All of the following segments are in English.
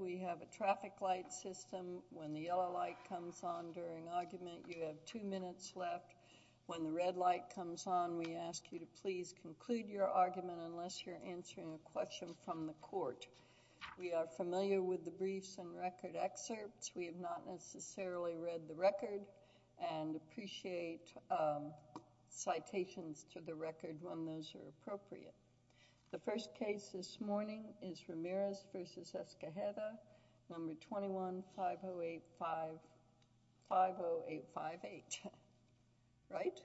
We have a traffic light system. When the yellow light comes on during argument, you have two minutes left. When the red light comes on, we ask you to please conclude your argument unless you're answering a question from the court. We are familiar with the briefs and record excerpts. We have not necessarily read the record and appreciate citations to the 21-5085-50858. Right?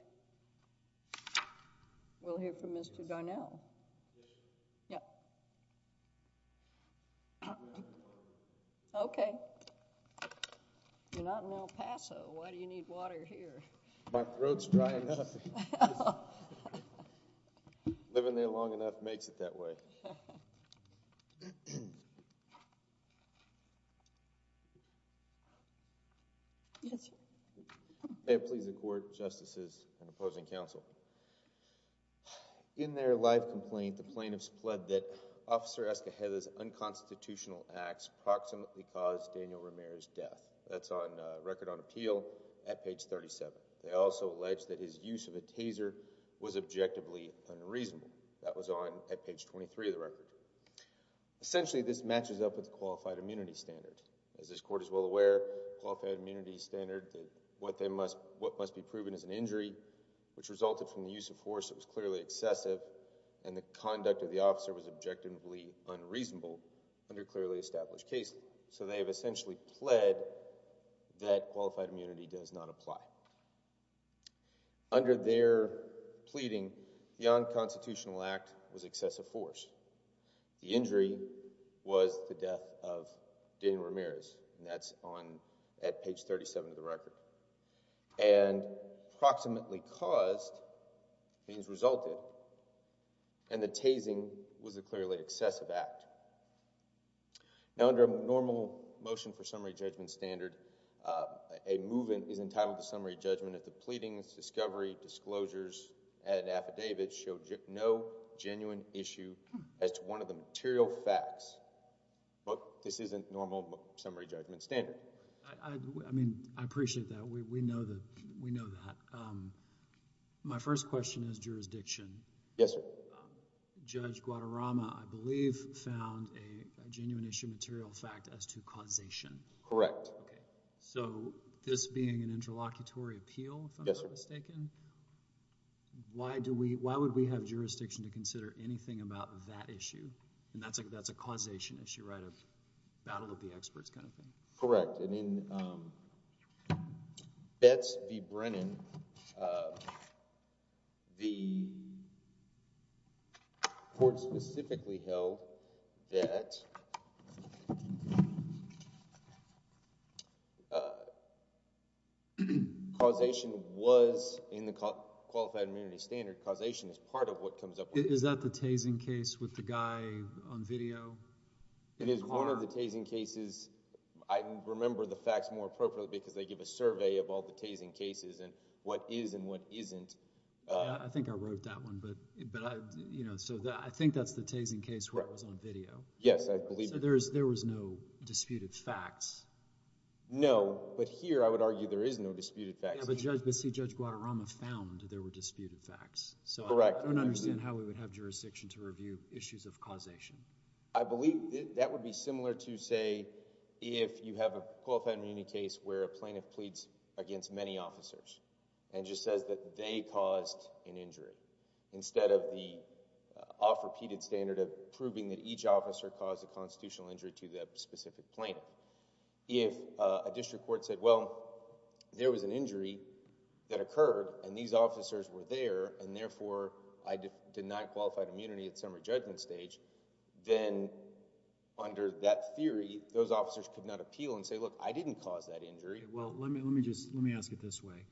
We'll hear from Mr. Garnell. Okay. You're not in El Paso. Why do you need water here? My throat's dry enough. Living there long enough makes it that way. May it please the court, justices, and opposing counsel. In their live complaint, the plaintiffs pled that Officer Escajeda's unconstitutional acts proximately caused Daniel Ramirez's death. That's on record on appeal at page 37. They also alleged that his use of a taser was objectively unreasonable. That was on at page 23 of the record. Essentially, this matches up with the qualified immunity standard. As this court is well aware, qualified immunity standard, what must be proven is an injury, which resulted from the use of force that was clearly excessive, and the conduct of the officer was objectively unreasonable under clearly established cases. So they have essentially pled that qualified immunity does not apply. Under their pleading, the unconstitutional act was excessive force. The injury was the death of Daniel Ramirez, and that's on at page 37 of the record. And proximately caused means resulted, and the tasing was a clearly excessive act. Now, under a normal motion for summary judgment standard, a movement is entitled to summary judgment if the pleadings, discovery, disclosures, and affidavits show no genuine issue as to one of the material facts. But this isn't normal summary judgment standard. I mean, I appreciate that. We know that. My first question is jurisdiction. Yes, sir. Judge Guadarrama, I believe, found a genuine issue material fact as to causation. Correct. Okay. So this being an interlocutory appeal, if I'm not mistaken, why would we have jurisdiction to consider anything about that issue? And that's a causation issue, right? A battle of the experts kind of thing. Correct. And in Betz v. Brennan, the court specifically held that causation was in the qualified immunity standard. Causation is part of what comes up. Is that the tasing case with the guy on video? It is one of the tasing cases. I remember the facts more appropriately because they give a survey of all the tasing cases and what is and what isn't. I think I wrote that one, but I think that's the tasing case where it was on video. Yes, I believe that. So there was no disputed facts? No, but here I would argue there is no disputed facts. But Judge Guadarrama found there were disputed facts. Correct. So I don't understand how we would have jurisdiction to review issues of causation. I believe that would be similar to say if you have a qualified immunity case where a plaintiff pleads against many officers and just says that they caused an injury instead of the off-repeated standard of proving that each officer caused a constitutional injury to that specific plaintiff. If a district court said, well, there was an injury that occurred and these officers were there and therefore I denied qualified immunity at that time, then under that theory those officers could not appeal and say, look, I didn't cause that injury. Well, let me ask it this way.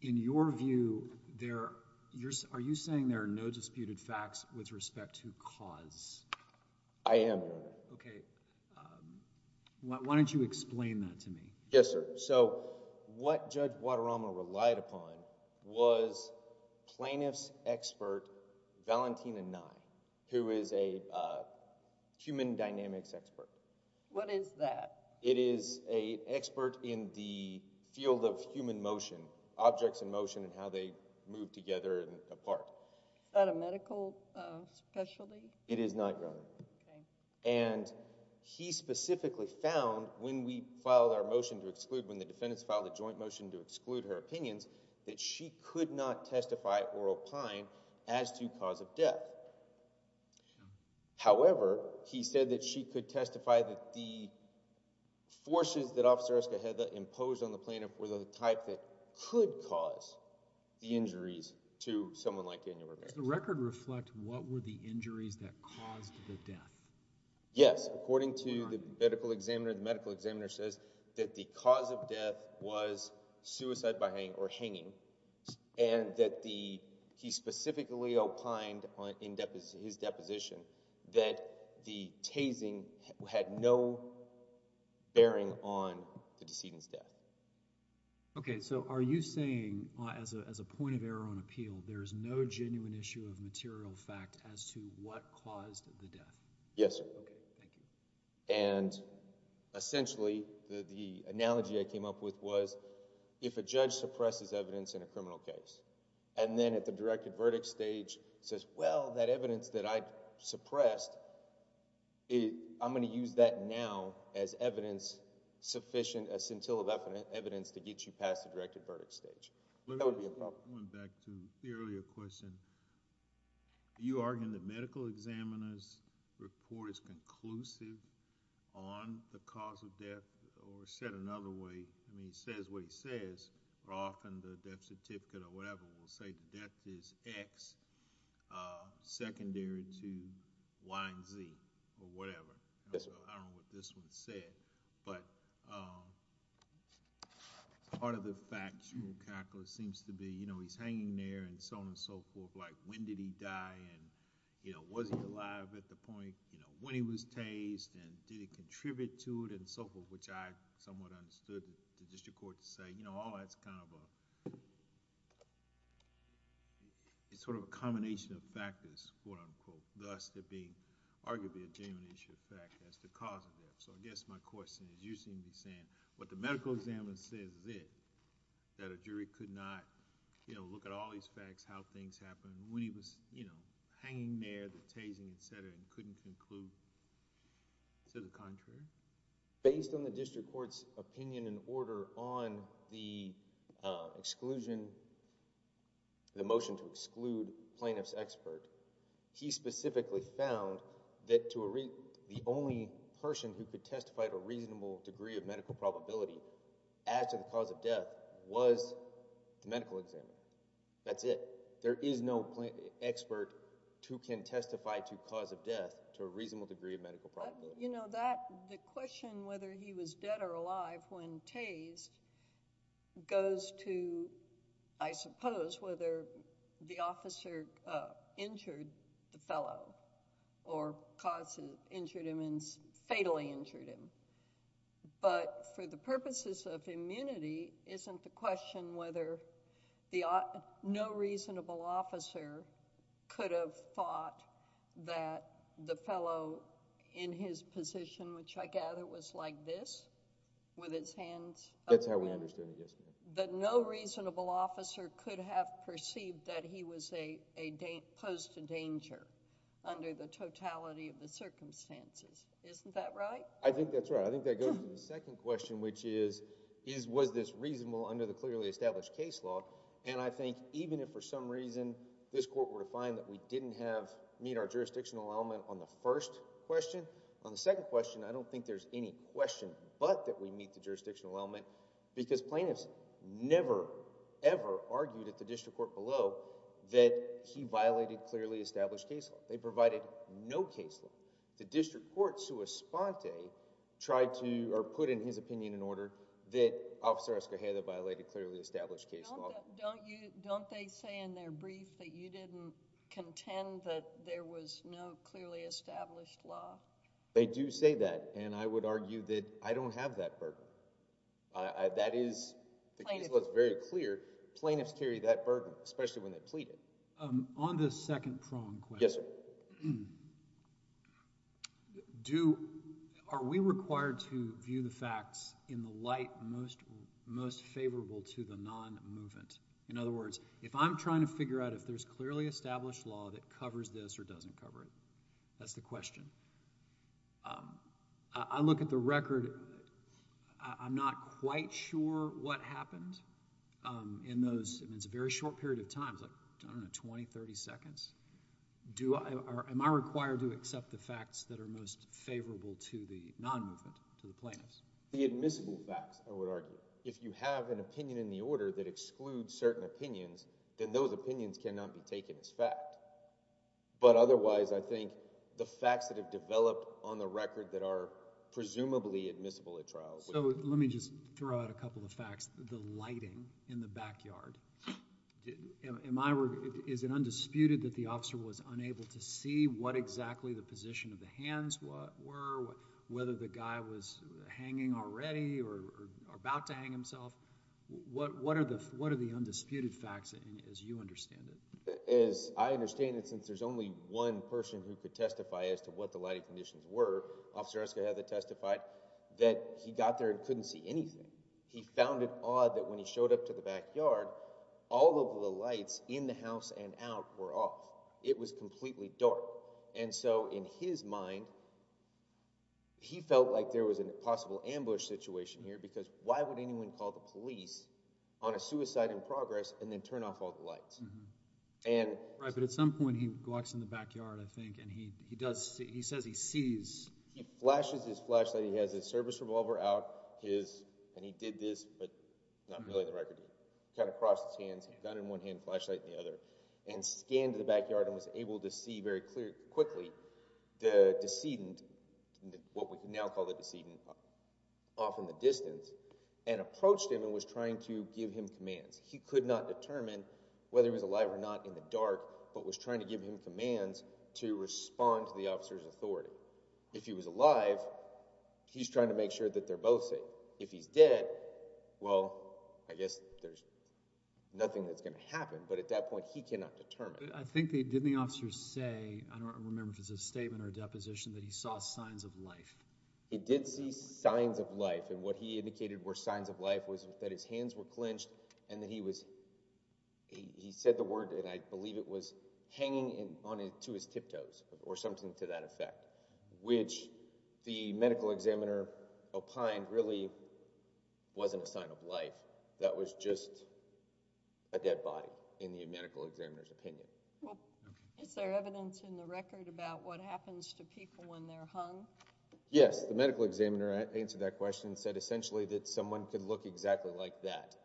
In your view, are you saying there are no disputed facts with respect to cause? I am, Your Honor. Okay. Why don't you explain that to me? Yes, sir. So what Judge Guadarrama relied upon was plaintiff's expert, Valentina Nye, who is a human dynamics expert. What is that? It is an expert in the field of human motion, objects in motion and how they move together and apart. Is that a medical specialty? It is not, Your Honor. Okay. And he specifically found when we filed our motion to exclude, when the defendants filed a joint motion to exclude her opinions, that she could not testify or opine as to cause of death. Sure. However, he said that she could testify that the forces that Officer Escajeda imposed on the plaintiff were the type that could cause the injuries to someone like Daniel Ramirez. Does the record reflect what were the injuries that caused the death? Yes. According to the medical examiner, the medical examiner says that the cause of death was suicide by hanging or hanging and that he specifically opined in his deposition that the tasing had no bearing on the decedent's death. Okay. So are you saying, as a point of error on appeal, there is no genuine issue of material fact as to what caused the death? Yes, sir. Okay. Thank you. And essentially, the analogy I came up with was if a judge suppresses evidence in a criminal case and then at the directed verdict stage says, well, that evidence that I suppressed, I'm going to use that now as evidence sufficient, a scintilla of evidence to get you past the directed verdict stage. That would be a problem. Going back to the earlier question, are you arguing that medical examiner's report is conclusive on the cause of death or said another way? I mean, it says what it says, Roth and the death certificate or whatever will say death is X secondary to Y and Z or whatever. I don't know what this one said. But part of the factual calculus seems to be, you know, he's hanging there and so on and so forth, like when did he die and, you know, was he alive at the point, you know, when he was tased and did he contribute to it and so forth, which I somewhat understood the district court to say, you know, all that's kind of a... it's sort of a combination of factors, quote-unquote, thus to be arguably a genuine issue of fact that's the cause of death. So I guess my question is, you seem to be saying what the medical examiner says is it, that a jury could not, you know, look at all these facts, how things happened, when he was, you know, hanging there, the tasing, et cetera, and couldn't conclude to the contrary? Based on the district court's opinion and order on the exclusion, the motion to exclude plaintiff's expert, he specifically found that the only person who could testify to a reasonable degree of medical probability as to the cause of death was the medical examiner. That's it. There is no expert who can testify to cause of death to a reasonable degree of medical probability. You know, the question whether he was dead or alive when tased goes to, I guess, the officer injured the fellow or caused... injured him and fatally injured him. But for the purposes of immunity, isn't the question whether the... no reasonable officer could have thought that the fellow in his position, which I gather was like this, with his hands... That's how we understood it, yes. That no reasonable officer could have perceived that he was a... posed a danger under the totality of the circumstances. Isn't that right? I think that's right. I think that goes to the second question, which is, was this reasonable under the clearly established case law? And I think even if for some reason this court were to find that we didn't have... meet our jurisdictional element on the first question, on the second question, I don't think there's any question but that we meet the never, ever argued at the district court below that he violated clearly established case law. They provided no case law. The district court, sua sponte, tried to, or put in his opinion, an order that Officer Escalera violated clearly established case law. Don't they say in their brief that you didn't contend that there was no clearly established law? They do say that, and I would argue that I don't have that burden. That is, the case law is very clear. Plaintiffs carry that burden, especially when they plead it. On the second prong question, are we required to view the facts in the light most favorable to the non-movement? In other words, if I'm trying to figure out if there's clearly established law that covers this or doesn't cover it, that's the question. I look at the record. I'm not quite sure what happened in those. It's a very short period of time, like 20, 30 seconds. Am I required to accept the facts that are most favorable to the non-movement, to the plaintiffs? The admissible facts, I would argue. If you have an opinion in the order that excludes certain opinions, then those opinions cannot be taken as fact. But otherwise, I think the facts that have developed on the record that are presumably admissible at trial... Let me just throw out a couple of facts. The lighting in the backyard, is it undisputed that the officer was unable to see what exactly the position of the hands were, whether the guy was hanging already or about to hang himself? What are the undisputed facts, as you understand it? As I understand it, since there's only one person who could testify as to what the lighting conditions were, Officer Eskew had to testify that he got there and couldn't see anything. He found it odd that when he showed up to the backyard, all of the lights in the house and out were off. It was completely dark. So in his mind, he felt like there was a possible ambush situation here because why would anyone call the police on a suicide in progress and then turn off all the lights? Right, but at some point, he walks in the backyard, I think, and he says he sees... He flashes his flashlight. He has his service revolver out, and he did this, but not really the record. He kind of crossed his hands, gun in one hand, flashlight in the other, and scanned the backyard and was able to see very quickly the decedent, what we now call the decedent, off in the distance, and approached him and was trying to give him commands. He could not determine whether he was alive or not in the dark, but was trying to give him commands to respond to the officer's authority. If he was alive, he's trying to make sure that they're both safe. If he's dead, well, I guess there's nothing that's going to happen, but at that point, he cannot determine. I think they did the officer say, I don't remember if it was a statement or a deposition, that he saw signs of life. He did see signs of life, and what he indicated were signs of life was that his hands were clenched and that he said the word, and I believe it was, hanging to his tiptoes or something to that effect, which the medical examiner opined really wasn't a sign of life. That was just a dead body in the medical examiner's opinion. Is there evidence in the record about what happens to people when they're hung? Yes. The medical examiner answered that question and said essentially that someone could look exactly like that.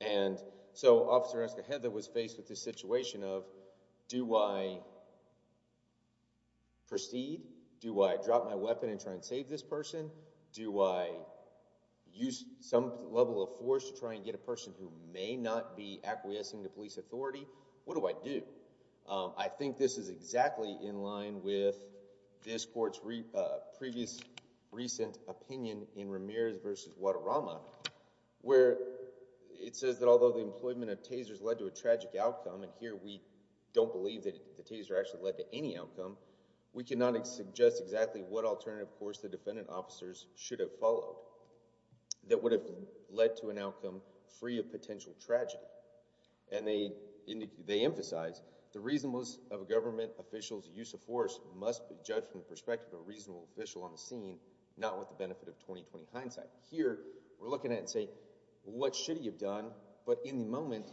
And so Officer Oscar Heather was faced with this situation of do I proceed? Do I drop my weapon and try and save this person? Do I use some level of force to try and get a person who may not be acquiescing to police authority? What do I do? I think this is exactly in line with this court's previous recent opinion in Ramirez v. Guadarrama where it says that although the employment of tasers led to a tragic outcome, and here we don't believe that the taser actually led to any outcome, we cannot suggest exactly what alternative course the defendant officers should have followed that would have led to an outcome free of potential tragedy. And they emphasize the reasonableness of a government official's use of force must be judged from the perspective of a reasonable official on the scene, not with the benefit of 20-20 hindsight. Here we're looking at it and saying what should he have done, but in the moment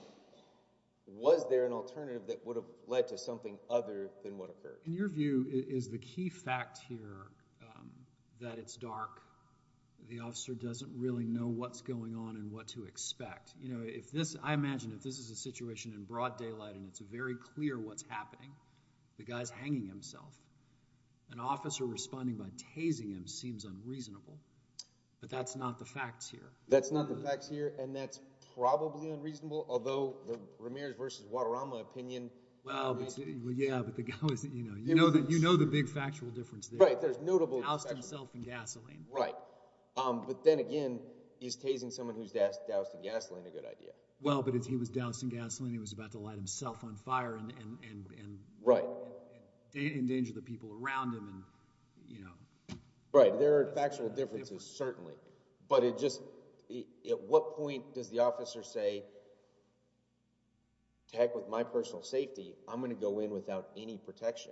was there an alternative that would have led to something other than what occurred? In your view is the key fact here that it's dark, the officer doesn't really know what's going on and what to expect. I imagine if this is a situation in broad daylight and it's very clear what's happening, the guy's hanging himself, an officer responding by tasing him seems unreasonable, but that's not the facts here. That's not the facts here and that's probably unreasonable, although the Ramirez v. Guadarrama opinion… Well, yeah, but you know the big factual difference there. Right, there's notable… Doused himself in gasoline. Right, but then again, is tasing someone who's doused in gasoline a good idea? Well, but if he was doused in gasoline, he was about to light himself on fire and endanger the people around him. Right, there are factual differences certainly, but at what point does the officer say, heck with my personal safety, I'm going to go in without any protection?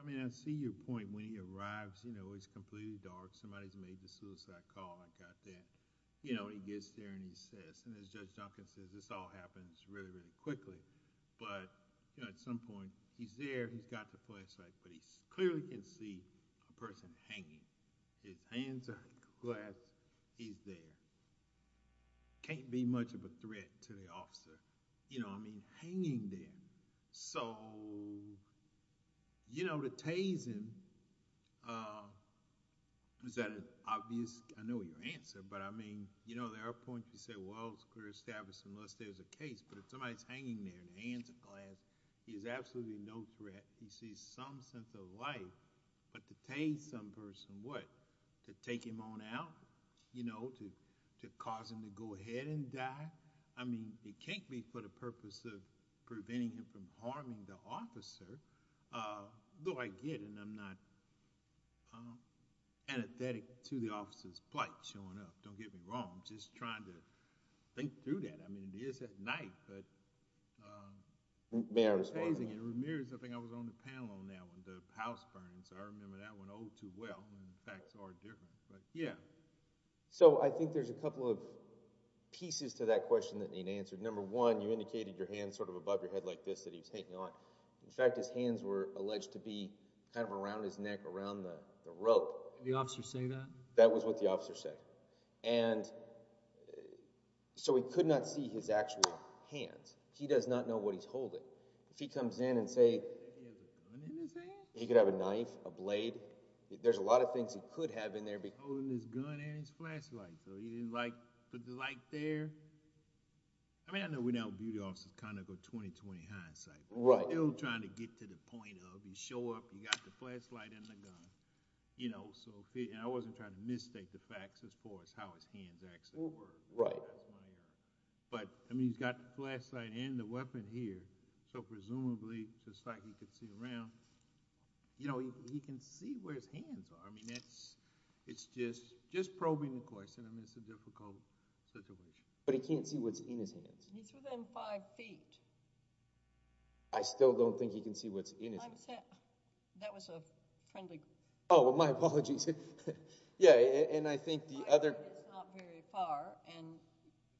I mean I see your point when he arrives, it's completely dark, somebody's made the suicide call, he gets there and he says, and as Judge Duncan says, this all happens really, really quickly, but at some point, he's there, he's got the flashlight, but he clearly can see a person hanging. His hands are glass, he's there. Can't be much of a threat to the officer, you know what I mean, hanging there. So, you know, the tasing, is that an obvious, I know your answer, but I mean, you know, there are points you say, well, it's clear, established, unless there's a case, but if somebody's hanging there, his hands are glass, he's absolutely no threat, he sees some sense of life, but to tase some person, what, to take him on out? You know, to cause him to go ahead and die? I mean, it can't be for the purpose of preventing him from harming the officer, though I get it, and I'm not antithetic to the officer's plight showing up, don't get me wrong, I'm just trying to think through that. I mean, it is at night, but... May I respond? It's amazing, it remirrors something I was on the panel on that one, the house burn, so I remember that one all too well, and the facts are different, but yeah. So I think there's a couple of pieces to that question that need answered. Number one, you indicated your hand sort of above your head like this, that he was hanging on. In fact, his hands were alleged to be kind of around his neck, around the rope. Did the officer say that? That was what the officer said. And so we could not see his actual hands. He does not know what he's holding. If he comes in and, say, he could have a knife, a blade, there's a lot of things he could have in there. Holding his gun and his flashlight, so he didn't put the light there. I mean, I know we know beauty officers kind of go 20-20 hindsight. Right. They're all trying to get to the point of, you show up, you got the flashlight and the gun, you know, and I wasn't trying to mistake the facts as far as how his hands actually were. Right. But, I mean, he's got the flashlight and the weapon here, so presumably, just like he could see around, you know, he can see where his hands are. I mean, it's just probing the question. I mean, it's a difficult situation. But he can't see what's in his hands. He threw them five feet. I still don't think he can see what's in his hands. That was a friendly question. Oh, well, my apologies. Yeah, and I think the other— Five feet is not very far, and,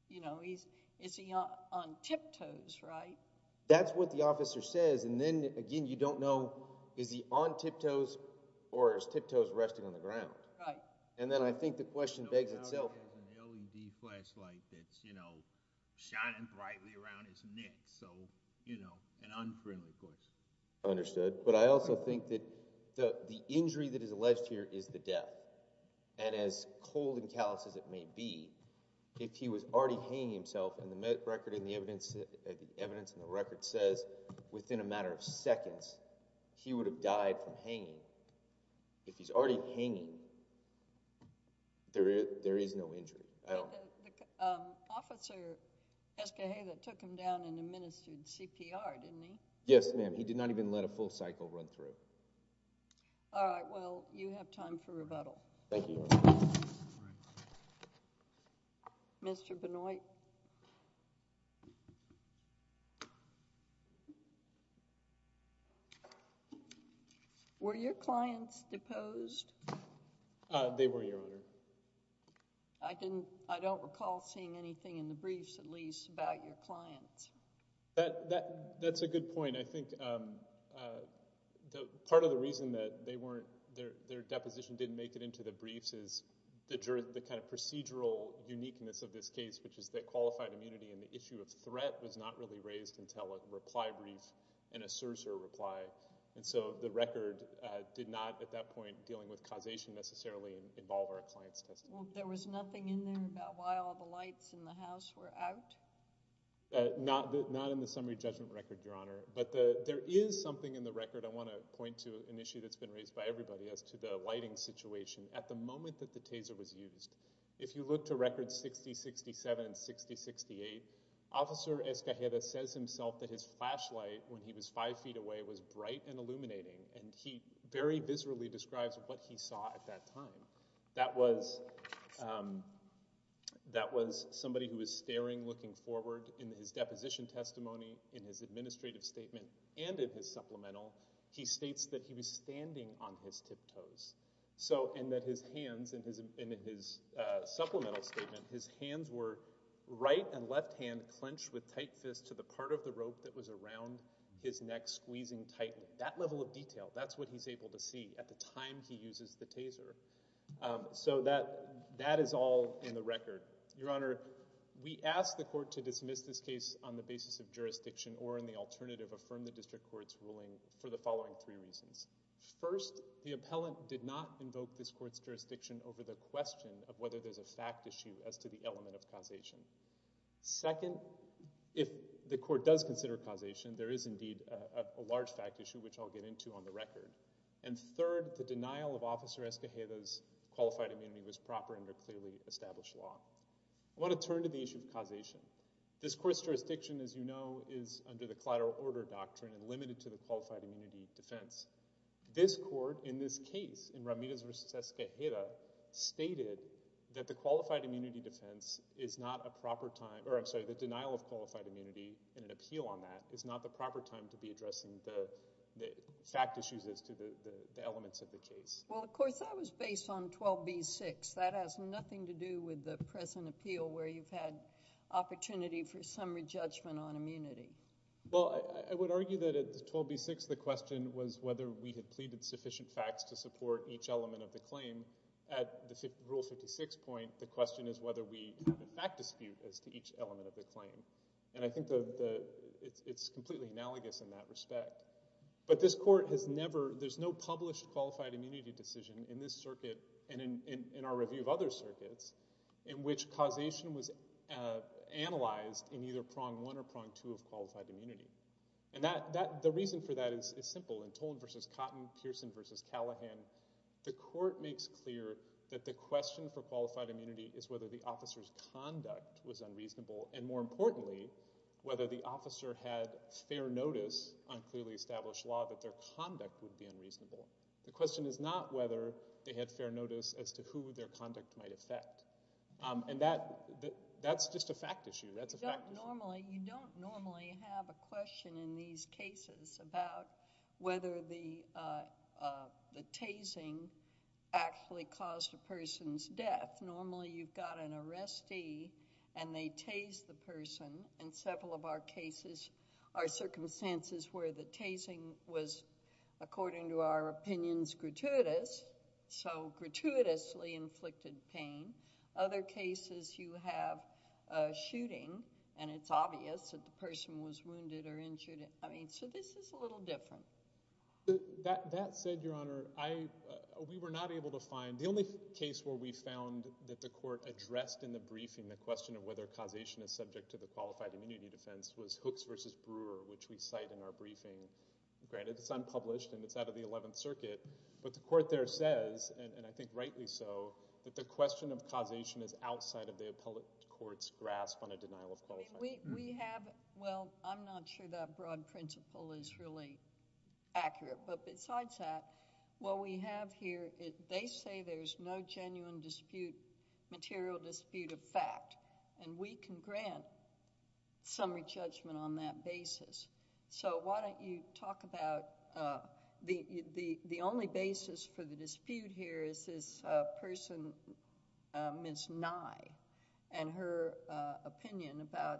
you know, is he on tiptoes, right? That's what the officer says, and then, again, you don't know, is he on tiptoes or is tiptoes resting on the ground? Right. And then I think the question begs itself— No, he's not looking at the LED flashlight that's, you know, shining brightly around his neck, so, you know, an unfriendly question. Understood. But I also think that the injury that is alleged here is the death, and as cold and callous as it may be, if he was already hanging himself, and the evidence in the record says within a matter of seconds, he would have died from hanging. If he's already hanging, there is no injury at all. The officer, Escajeda, took him down and administered CPR, didn't he? Yes, ma'am. He did not even let a full cycle run through. All right. Well, you have time for rebuttal. Thank you. Mr. Benoit. Were your clients deposed? They were, Your Honor. I don't recall seeing anything in the briefs, at least, about your clients. That's a good point. I think part of the reason that they weren't— is the kind of procedural uniqueness of this case, which is that qualified immunity and the issue of threat was not really raised until a reply brief and a CSRS or a reply. And so the record did not, at that point, dealing with causation necessarily involve our clients' testimony. Well, there was nothing in there about why all the lights in the house were out? Not in the summary judgment record, Your Honor. But there is something in the record— I want to point to an issue that's been raised by everybody as to the lighting situation. At the moment that the taser was used, if you look to records 60-67 and 60-68, Officer Escajeda says himself that his flashlight, when he was five feet away, was bright and illuminating, and he very viscerally describes what he saw at that time. That was somebody who was staring, looking forward. In his deposition testimony, in his administrative statement, and in his supplemental, he states that he was standing on his tiptoes. And that his hands, in his supplemental statement, his hands were right and left hand clenched with tight fist to the part of the rope that was around his neck, squeezing tight. That level of detail, that's what he's able to see at the time he uses the taser. So that is all in the record. Your Honor, we ask the court to dismiss this case on the basis of jurisdiction or in the alternative affirm the district court's ruling for the following three reasons. First, the appellant did not invoke this court's jurisdiction over the question of whether there's a fact issue as to the element of causation. Second, if the court does consider causation, there is indeed a large fact issue, which I'll get into on the record. And third, the denial of Officer Escajeda's qualified immunity was proper under clearly established law. I want to turn to the issue of causation. This court's jurisdiction, as you know, is under the collateral order doctrine and limited to the qualified immunity defense. This court, in this case, in Ramirez v. Escajeda, stated that the qualified immunity defense is not a proper time... or I'm sorry, the denial of qualified immunity and an appeal on that is not the proper time to be addressing the fact issues as to the elements of the case. Well, of course, that was based on 12b-6. That has nothing to do with the present appeal where you've had opportunity for summary judgment on immunity. Well, I would argue that at 12b-6, the question was whether we had pleaded sufficient facts to support each element of the claim. At Rule 56 point, the question is whether we have a fact dispute as to each element of the claim. And I think it's completely analogous in that respect. But this court has never... there's no published qualified immunity decision in this circuit and in our review of other circuits in which causation was analyzed in either prong one or prong two of qualified immunity. And the reason for that is simple. In Tolan v. Cotton, Pearson v. Callahan, the court makes clear that the question for qualified immunity is whether the officer's conduct was unreasonable and, more importantly, whether the officer had fair notice on clearly established law that their conduct would be unreasonable. The question is not whether they had fair notice as to who their conduct might affect. And that's just a fact issue. That's a fact issue. You don't normally have a question in these cases about whether the tasing actually caused a person's death. Normally, you've got an arrestee and they tase the person. In several of our cases, our circumstances were the tasing was, according to our opinions, gratuitous. So gratuitously inflicted pain. Other cases, you have a shooting and it's obvious that the person was wounded or injured. So this is a little different. That said, Your Honor, we were not able to find... The only case where we found that the court addressed in the briefing the question of whether causation is subject to the qualified immunity defense was Hooks v. Brewer, which we cite in our briefing. Granted, it's unpublished and it's out of the Eleventh Circuit, but the court there says, and I think rightly so, that the question of causation is outside of the appellate court's grasp on a denial of qualification. We have... Well, I'm not sure that broad principle is really accurate, but besides that, what we have here... They say there's no genuine dispute, material dispute of fact, and we can grant summary judgment on that basis. So why don't you talk about... The only basis for the dispute here is this person, Ms. Nye, and her opinion about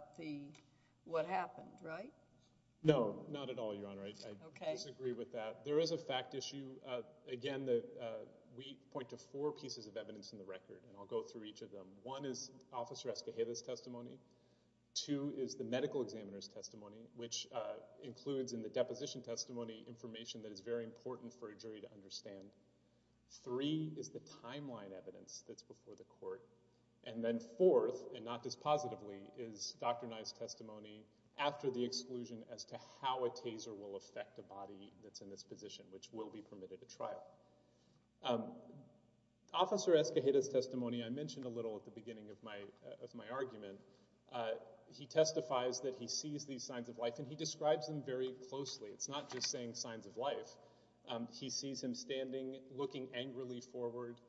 what happened, right? No, not at all, Your Honor. I disagree with that. There is a fact issue. Again, we point to four pieces of evidence in the record, and I'll go through each of them. Two is the medical examiner's testimony, which includes in the deposition testimony information that is very important for a jury to understand. Three is the timeline evidence that's before the court. And then fourth, and not dispositively, is Dr. Nye's testimony after the exclusion as to how a taser will affect a body that's in this position, which will be permitted at trial. Officer Escajeda's testimony I mentioned a little at the beginning of my argument. He testifies that he sees these signs of life, and he describes them very closely. It's not just saying signs of life. He sees him standing, looking angrily forward,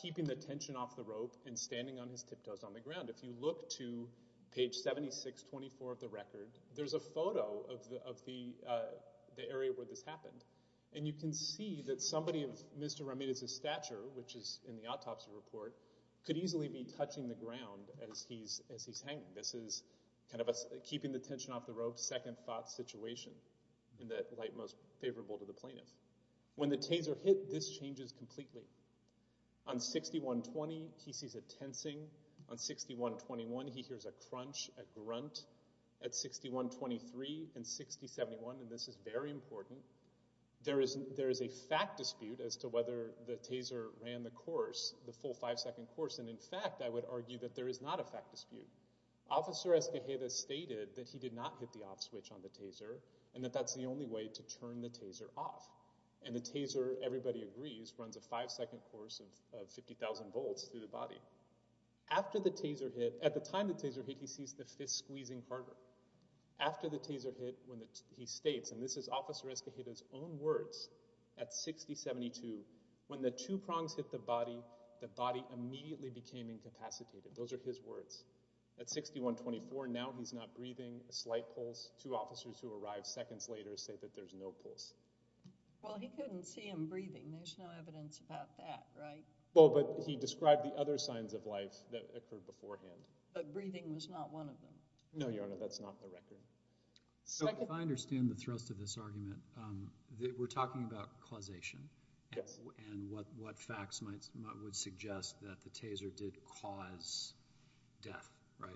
keeping the tension off the rope, and standing on his tiptoes on the ground. If you look to page 7624 of the record, there's a photo of the area where this happened. And you can see that somebody of Mr. Ramirez's stature, which is in the autopsy report, could easily be touching the ground as he's hanging. This is kind of a keeping the tension off the rope, second-thought situation, in the light most favorable to the plaintiff. When the taser hit, this changes completely. On 6120, he sees a tensing. On 6121, he hears a crunch, a grunt. At 6123 and 6071, and this is very important, there is a fact dispute as to whether the taser ran the course the full five-second course, and in fact, I would argue that there is not a fact dispute. Officer Escojeda stated that he did not hit the off switch on the taser and that that's the only way to turn the taser off. And the taser, everybody agrees, runs a five-second course of 50,000 volts through the body. After the taser hit, at the time the taser hit, he sees the fist squeezing harder. After the taser hit, he states, and this is Officer Escojeda's own words at 6072, when the two prongs hit the body, the body immediately became incapacitated. Those are his words. At 6124, now he's not breathing, a slight pulse. Two officers who arrived seconds later say that there's no pulse. Well, he couldn't see him breathing. There's no evidence about that, right? Well, but he described the other signs of life that occurred beforehand. But breathing was not one of them. No, Your Honor, that's not the record. If I understand the thrust of this argument, we're talking about causation. Yes. And what facts might suggest that the taser did cause death, right?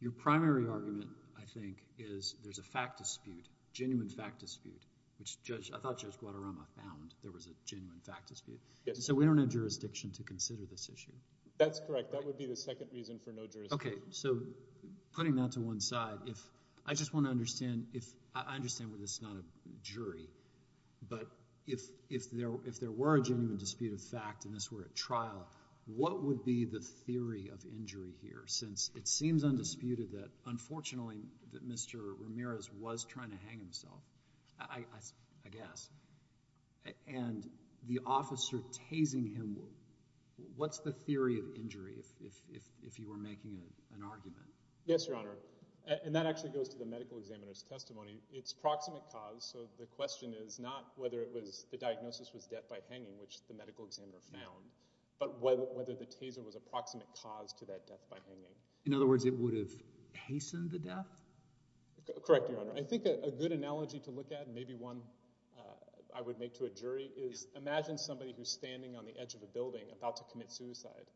Your primary argument, I think, is there's a fact dispute, genuine fact dispute, which I thought Judge Guadarrama found there was a genuine fact dispute. So we don't have jurisdiction to consider this issue. That's correct. That would be the second reason for no jurisdiction. Okay, so putting that to one side, I just want to understand, I understand this is not a jury, but if there were a genuine dispute of fact and this were a trial, what would be the theory of injury here? Since it seems undisputed that, unfortunately, that Mr. Ramirez was trying to hang himself, I guess, and the officer tasing him, what's the theory of injury if you were making an argument? Yes, Your Honor. And that actually goes to the medical examiner's testimony. It's proximate cause, so the question is not whether the diagnosis was death by hanging, which the medical examiner found, but whether the taser was a proximate cause to that death by hanging. In other words, it would have hastened the death? Correct, Your Honor. I think a good analogy to look at, maybe one I would make to a jury, is imagine somebody who's standing on the edge of a building about to commit suicide,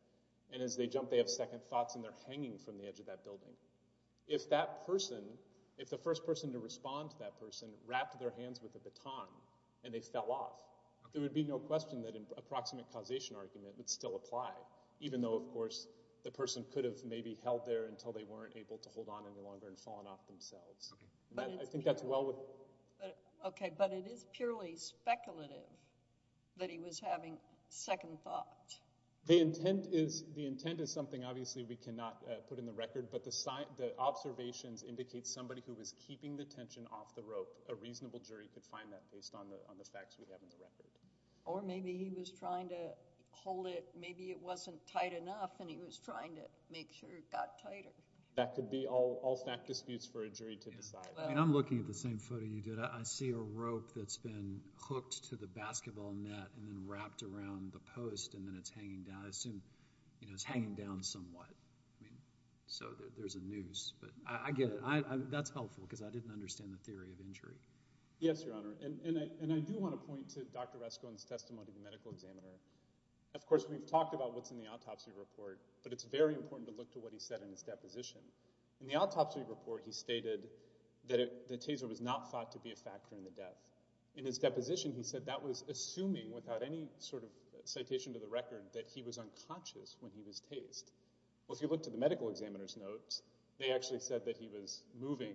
and as they jump, they have second thoughts, and they're hanging from the edge of that building. If that person, if the first person to respond to that person wrapped their hands with a baton and they fell off, there would be no question that a proximate causation argument would still apply, even though, of course, the person could have maybe held there until they weren't able to hold on any longer and fallen off themselves. I think that's well with... Okay, but it is purely speculative that he was having second thoughts. The intent is something, obviously, we cannot put in the record, but the observations indicate somebody who was keeping the tension off the rope. A reasonable jury could find that based on the facts we have in the record. Or maybe he was trying to hold it, maybe it wasn't tight enough, and he was trying to make sure it got tighter. That could be all fact disputes for a jury to decide. I'm looking at the same photo you did. I see a rope that's been hooked to the basketball net and then wrapped around the post, and then it's hanging down. I assume it's hanging down somewhat. I mean, so there's a noose. But I get it. That's helpful, because I didn't understand the theory of injury. Yes, Your Honor. And I do want to point to Dr. Rasko and his testimony to the medical examiner. Of course, we've talked about what's in the autopsy report, but it's very important to look to what he said in his deposition. In the autopsy report, he stated that the taser was not thought to be a factor in the death. In his deposition, he said that was assuming, without any sort of citation to the record, that he was unconscious when he was tased. Well, if you look to the medical examiner's notes, they actually said that he was moving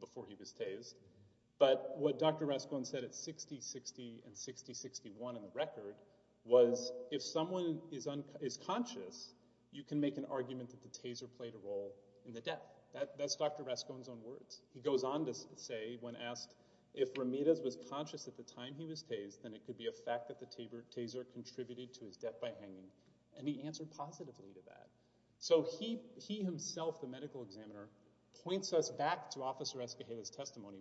before he was tased. But what Dr. Rasko said at 60-60 and 60-61 in the record was if someone is conscious, you can make an argument that the taser played a role in the death. That's Dr. Rasko's own words. He goes on to say, when asked, if Ramirez was conscious at the time he was tased, then it could be a fact that the taser contributed to his death by hanging. And he answered positively to that. So he himself, the medical examiner, points us back to Officer Esquihela's testimony.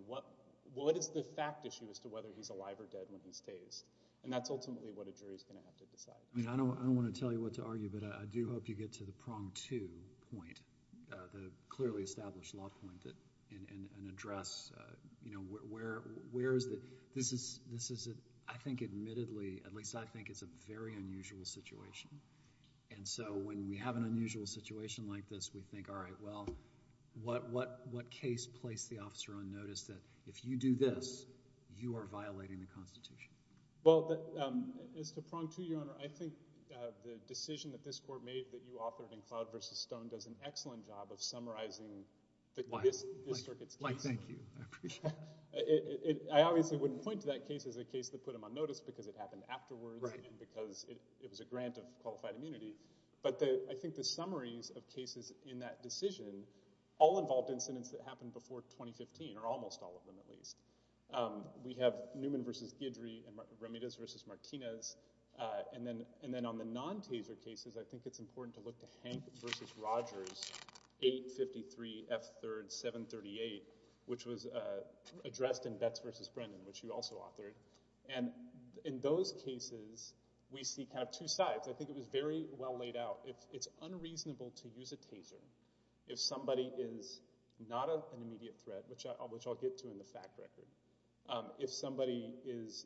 What is the fact issue as to whether he's alive or dead when he's tased? And that's ultimately what a jury is going to have to decide. I don't want to tell you what to argue, but I do hope you get to the prong two point, the clearly established law point, and address where is it. This is, I think, admittedly, at least I think, it's a very unusual situation. And so when we have an unusual situation like this, we think, all right, well, what case placed the officer on notice that if you do this, you are violating the Constitution? Well, as to prong two, Your Honor, I think the decision that this Court made that you authored in Cloud versus Stone does an excellent job of summarizing this circuit's case. Mike, thank you. I appreciate it. I obviously wouldn't point to that case as a case that put him on notice because it happened afterwards and because it was a grant of qualified immunity. But I think the summaries of cases in that decision, all involved incidents that happened before 2015, or almost all of them at least. We have Newman versus Guidry and Remedios versus Martinez. And then on the non-taser cases, I think it's important to look to Hank versus Rogers, 853 F. 3rd, 738, which was addressed in Betts versus Brennan, which you also authored. And in those cases, we see kind of two sides. I think it was very well laid out. It's unreasonable to use a taser if somebody is not an immediate threat, which I'll get to in the fact record. If somebody is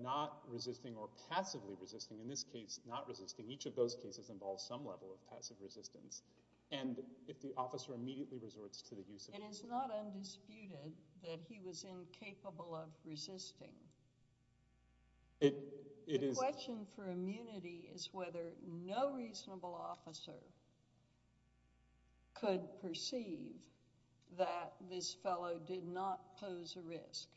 not resisting or passively resisting, in this case, not resisting, each of those cases involves some level of passive resistance. And if the officer immediately resorts to the use of it. It is not undisputed that he was incapable of resisting. The question for immunity is whether no reasonable officer could perceive that this fellow did not pose a risk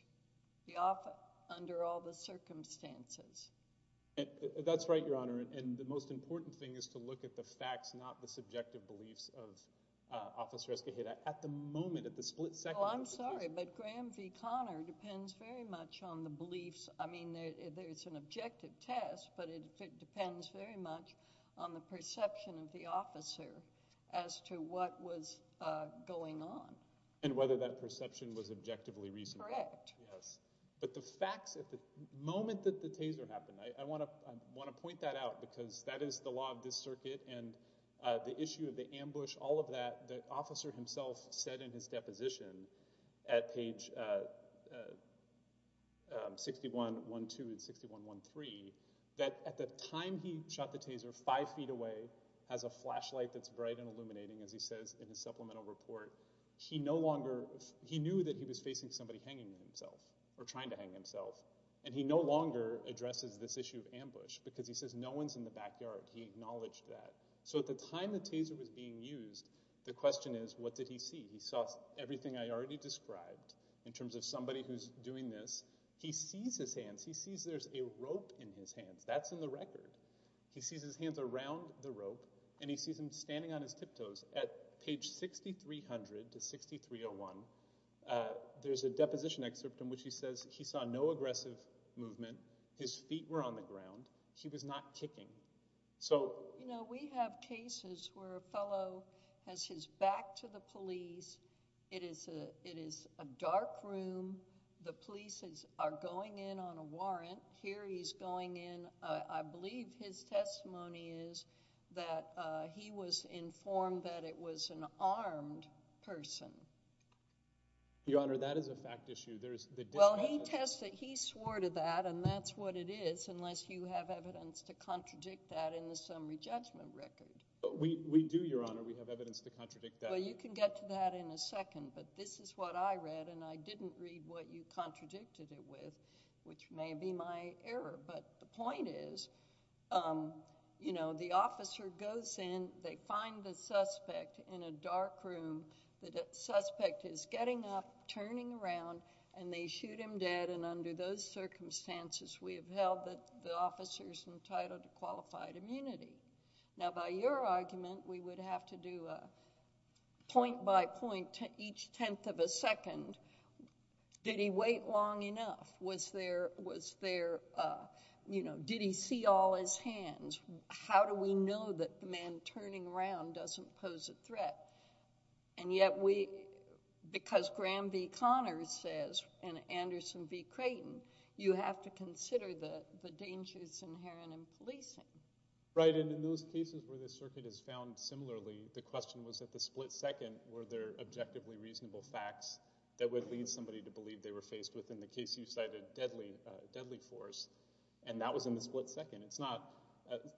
under all the circumstances. That's right, Your Honor. And the most important thing is to look at the facts, not the subjective beliefs of Officer Esquiheda. At the moment, at the split second... Oh, I'm sorry, but Graham v. Connor depends very much on the beliefs. I mean, there's an objective test, but it depends very much on the perception of the officer as to what was going on. And whether that perception was objectively reasonable. Correct. Yes. But the facts at the moment that the taser happened, I want to point that out because that is the law of this circuit and the issue of the ambush, all of that, that the officer himself said in his deposition at page 61.12 and 61.13 that at the time he shot the taser five feet away, has a flashlight that's bright and illuminating, as he says in his supplemental report, he no longer... He knew that he was facing somebody hanging himself or trying to hang himself, and he no longer addresses this issue of ambush because he says no one's in the backyard. He acknowledged that. So at the time the taser was being used, the question is, what did he see? He saw everything I already described in terms of somebody who's doing this. He sees his hands. He sees there's a rope in his hands. That's in the record. He sees his hands around the rope, and he sees him standing on his tiptoes. At page 6300 to 6301, there's a deposition excerpt in which he says he saw no aggressive movement. His feet were on the ground. He was not kicking. So... You know, we have cases where a fellow has his back to the police. It is a dark room. The police are going in on a warrant. Here he's going in. I believe his testimony is that he was informed that it was an armed person. Your Honor, that is a fact issue. Well, he tested... He swore to that, and that's what it is, unless you have evidence to contradict that in the summary judgment record. We do, Your Honor. We have evidence to contradict that. Well, you can get to that in a second, but this is what I read, and I didn't read what you contradicted it with, which may be my error. But the point is, you know, the officer goes in. They find the suspect in a dark room. The suspect is getting up, turning around, and they shoot him dead, and under those circumstances, we have held that the officer is entitled to qualified immunity. Now, by your argument, we would have to do a point-by-point, each tenth of a second. Did he wait long enough? Was there, you know, did he see all his hands? How do we know that the man turning around doesn't pose a threat? And yet, because Graham B. Connors says, and Anderson B. Creighton, you have to consider the dangers inherent in policing. Right, and in those cases where the circuit is found similarly, the question was, at the split second, were there objectively reasonable facts that would lead somebody to believe they were faced with, in the case you cited, deadly force, and that was in the split second. It's not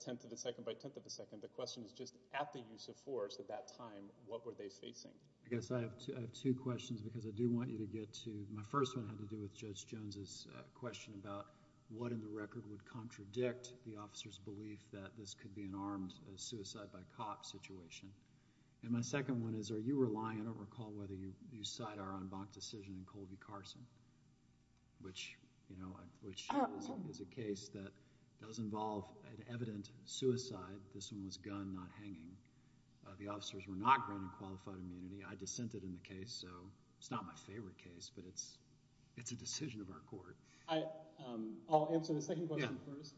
tenth of a second by tenth of a second. The question is, just at the use of force at that time, what were they facing? I guess I have two questions because I do want you to get to my first one and it had to do with Judge Jones' question about what in the record would contradict the officer's belief that this could be an armed suicide-by-cop situation. And my second one is, are you relying, I don't recall whether you cite our en banc decision in Colby-Carson, which, you know, which is a case that does involve an evident suicide. This one was gun not hanging. The officers were not granted qualified immunity. I dissented in the case, so it's not my favorite case, but it's a decision of our court. I'll answer the second question first.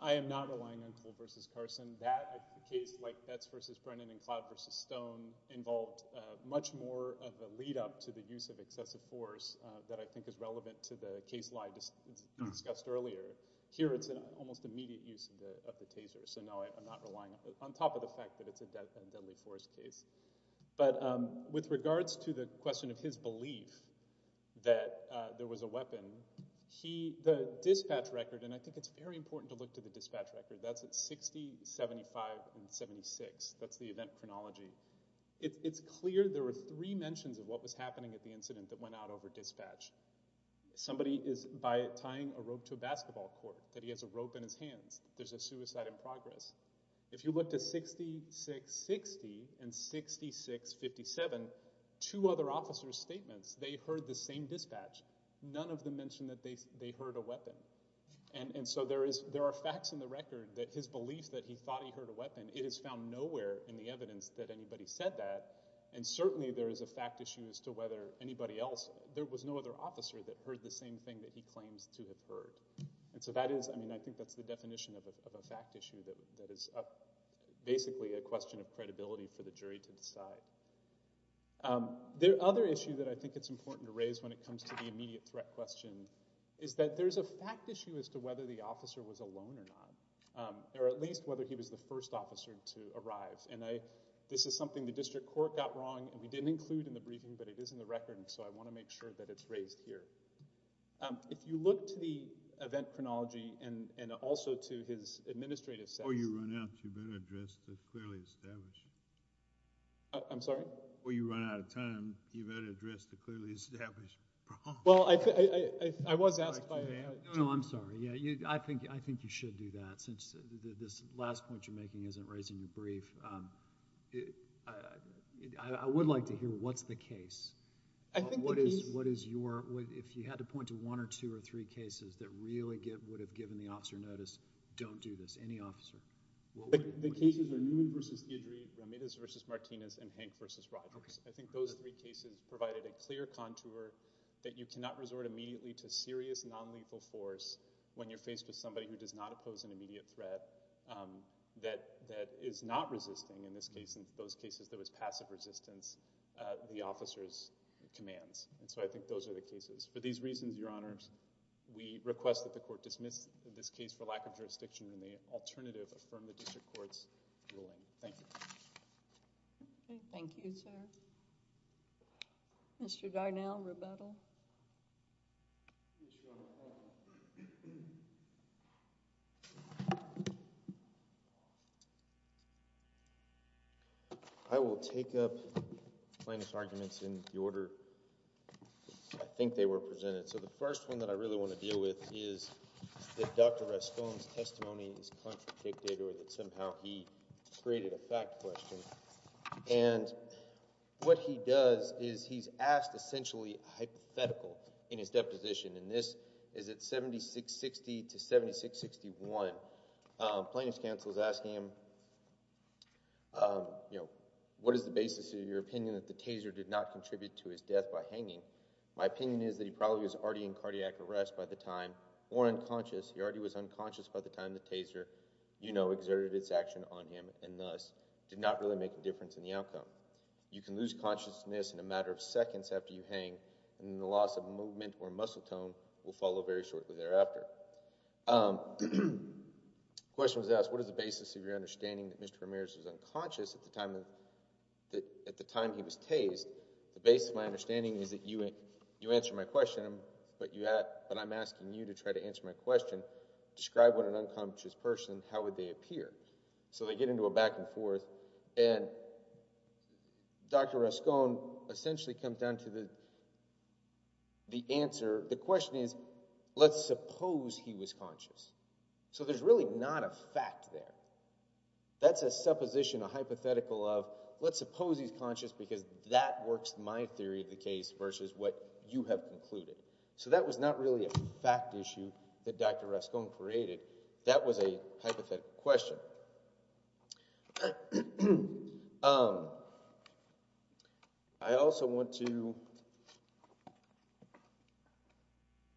I am not relying on Colby-Carson. That case, like Betz v. Brennan and Claude v. Stone, involved much more of a lead-up to the use of excessive force that I think is relevant to the case lie discussed earlier. Here it's an almost immediate use of the taser, so no, I'm not relying on it, on top of the fact that it's a deadly force case. But with regards to the question of his belief that there was a weapon, he, the dispatch record, and I think it's very important to look to the dispatch record, that's at 60, 75, and 76. That's the event chronology. It's clear there were three mentions of what was happening at the incident that went out over dispatch. Somebody is, by tying a rope to a basketball court, that he has a rope in his hands. There's a suicide in progress. If you look to 66, 60, and 66, 57, two other officers' statements, they heard the same dispatch. None of them mentioned that they heard a weapon. And so there are facts in the record that his belief that he thought he heard a weapon, it is found nowhere in the evidence that anybody said that. And certainly there is a fact issue as to whether anybody else, there was no other officer that heard the same thing And so that is, I mean, I think that's the definition of a fact issue that is basically a question of credibility for the jury to decide. The other issue that I think it's important to raise when it comes to the immediate threat question is that there's a fact issue as to whether the officer was alone or not, or at least whether he was the first officer to arrive. And this is something the district court got wrong, and we didn't include in the briefing, but it is in the record, and so I want to make sure that it's raised here. If you look to the event chronology and also to his administrative status... Before you run out, you better address the clearly established... I'm sorry? Before you run out of time, you better address the clearly established problem. Well, I was asked by... No, no, I'm sorry. Yeah, I think you should do that, since this last point you're making isn't raising the brief. I would like to hear what's the case. I think the case... What is your... If you had to point to one or two or three cases that really would have given the officer notice, don't do this, any officer. The cases are Newman v. Deidre, Ramirez v. Martinez, and Hank v. Rogers. I think those three cases provided a clear contour that you cannot resort immediately to serious nonlethal force when you're faced with somebody who does not oppose an immediate threat that is not resisting, in this case, in those cases, there was passive resistance, the officer's commands. And so I think those are the cases. For these reasons, Your Honors, we request that the court dismiss this case for lack of jurisdiction and may alternatively affirm the district court's ruling. Thank you. Thank you, sir. Mr. Garnell, rebuttal. I will take up plaintiff's arguments in the order I think they were presented. So the first one that I really want to deal with is that Dr. Raston's testimony is contradictory that somehow he created a fact question. And what he does is he's asked, essentially, a hypothetical in his deposition, and this is at 7660 to 7661. Plaintiff's counsel is asking him, you know, what is the basis of your opinion that the Taser did not contribute to his death by hanging? My opinion is that he probably was already in cardiac arrest by the time or unconscious. He already was unconscious by the time the Taser, you know, exerted its action on him and thus did not really make a difference in the outcome. You can lose consciousness in a matter of seconds after you hang, and the loss of movement or muscle tone will follow very shortly thereafter. The question was asked, what is the basis of your understanding that Mr. Ramirez was unconscious at the time he was tased? The basis of my understanding is that you answer my question, but I'm asking you to try to answer my question. Describe what an unconscious person, how would they appear? So they get into a back and forth, and Dr. Raston essentially comes down to the answer. The question is, let's suppose he was conscious. So there's really not a fact there. That's a supposition, a hypothetical of, let's suppose he's conscious because that works my theory of the case versus what you have concluded. So that was not really a fact issue that Dr. Raston created. That was a hypothetical question. I also want to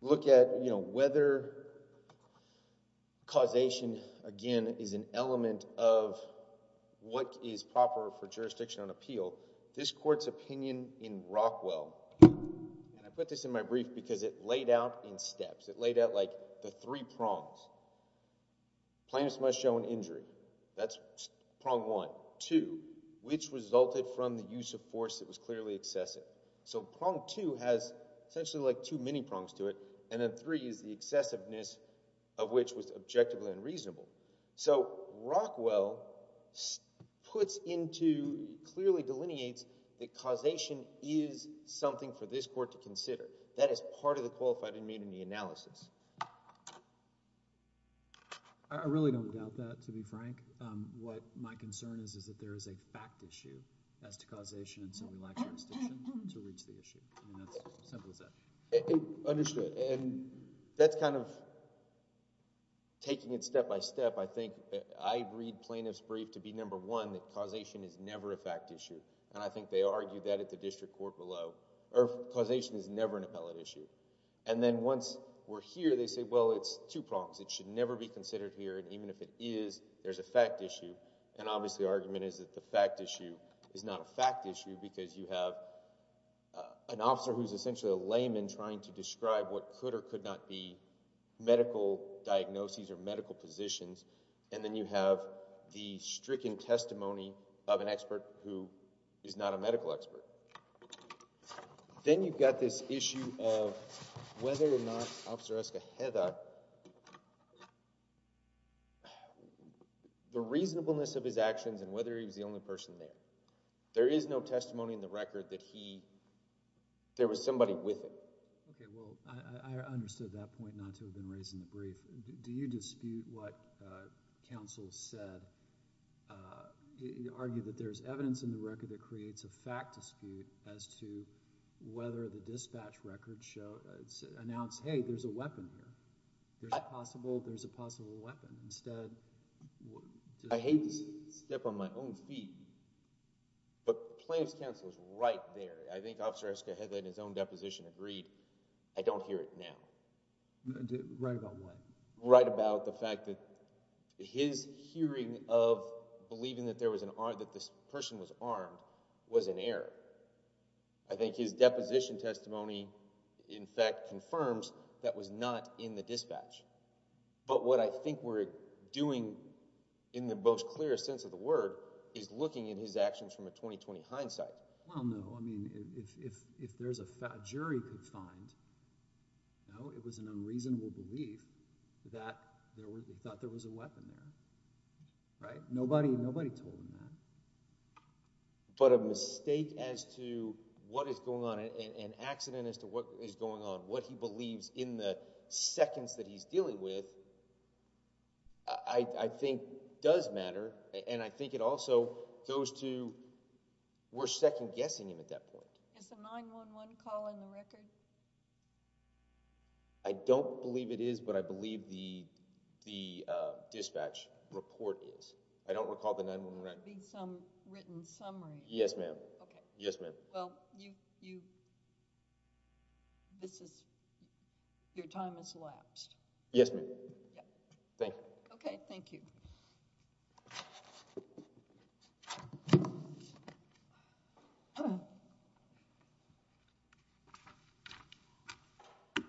look at, you know, whether causation, again, is an element of what is proper for jurisdiction on appeal. This court's opinion in Rockwell, and I put this in my brief because it laid out in steps. It laid out, like, the three prongs. Plaintiff's must show an injury. That's prong one. Two, which resulted from the use of force that was clearly excessive. So prong two has essentially, like, two mini prongs to it, and then three is the excessiveness of which was objectively unreasonable. So Rockwell puts into, clearly delineates, that causation is something for this court to consider. That is part of the qualified immunity analysis. I really don't doubt that, to be frank. What my concern is is that there is a fact issue as to causation, and so we lack jurisdiction to reach the issue. I mean, that's as simple as that. Understood. And that's kind of taking it step by step. I think I read plaintiff's brief to be number one, that causation is never a fact issue, and I think they argue that at the district court below. Causation is never an appellate issue. And then once we're here, they say, well, it's two prongs. It should never be considered here, and even if it is, there's a fact issue. And obviously the argument is that the fact issue is not a fact issue because you have an officer who's essentially a layman trying to describe what could or could not be medical diagnoses or medical positions, and then you have the stricken testimony of an expert who is not a medical expert. Then you've got this issue of whether or not Officer Eska Hedak... the reasonableness of his actions and whether he was the only person there. There is no testimony in the record that there was somebody with him. Okay. Well, I understood that point not to have been raised in the brief. Do you dispute what counsel said? You argue that there's evidence in the record that creates a fact dispute as to whether the dispatch record announced, hey, there's a weapon here. There's a possible weapon. I hate to step on my own feet, but plaintiff's counsel was right there. I think Officer Eska Hedak in his own deposition agreed, I don't hear it now. Right about what? Right about the fact that his hearing of believing that this person was armed was an error. I think his deposition testimony, in fact, confirms that was not in the dispatch. But what I think we're doing in the most clear sense of the word is looking at his actions from a 20-20 hindsight. Well, no. I mean, if there's a jury could find, no, it was an unreasonable belief that there was a weapon there. Right? Nobody told him that. But a mistake as to what is going on, an accident as to what is going on, what he believes in the seconds that he's dealing with, I think does matter. And I think it also goes to we're second-guessing him at that point. Is the 9-1-1 call in the record? I don't believe it is, but I believe the dispatch report is. I don't recall the 9-1-1. It would be some written summary. Yes, ma'am. Okay. Yes, ma'am. Well, this is—your time has elapsed. Yes, ma'am. Thank you. Okay. Thank you.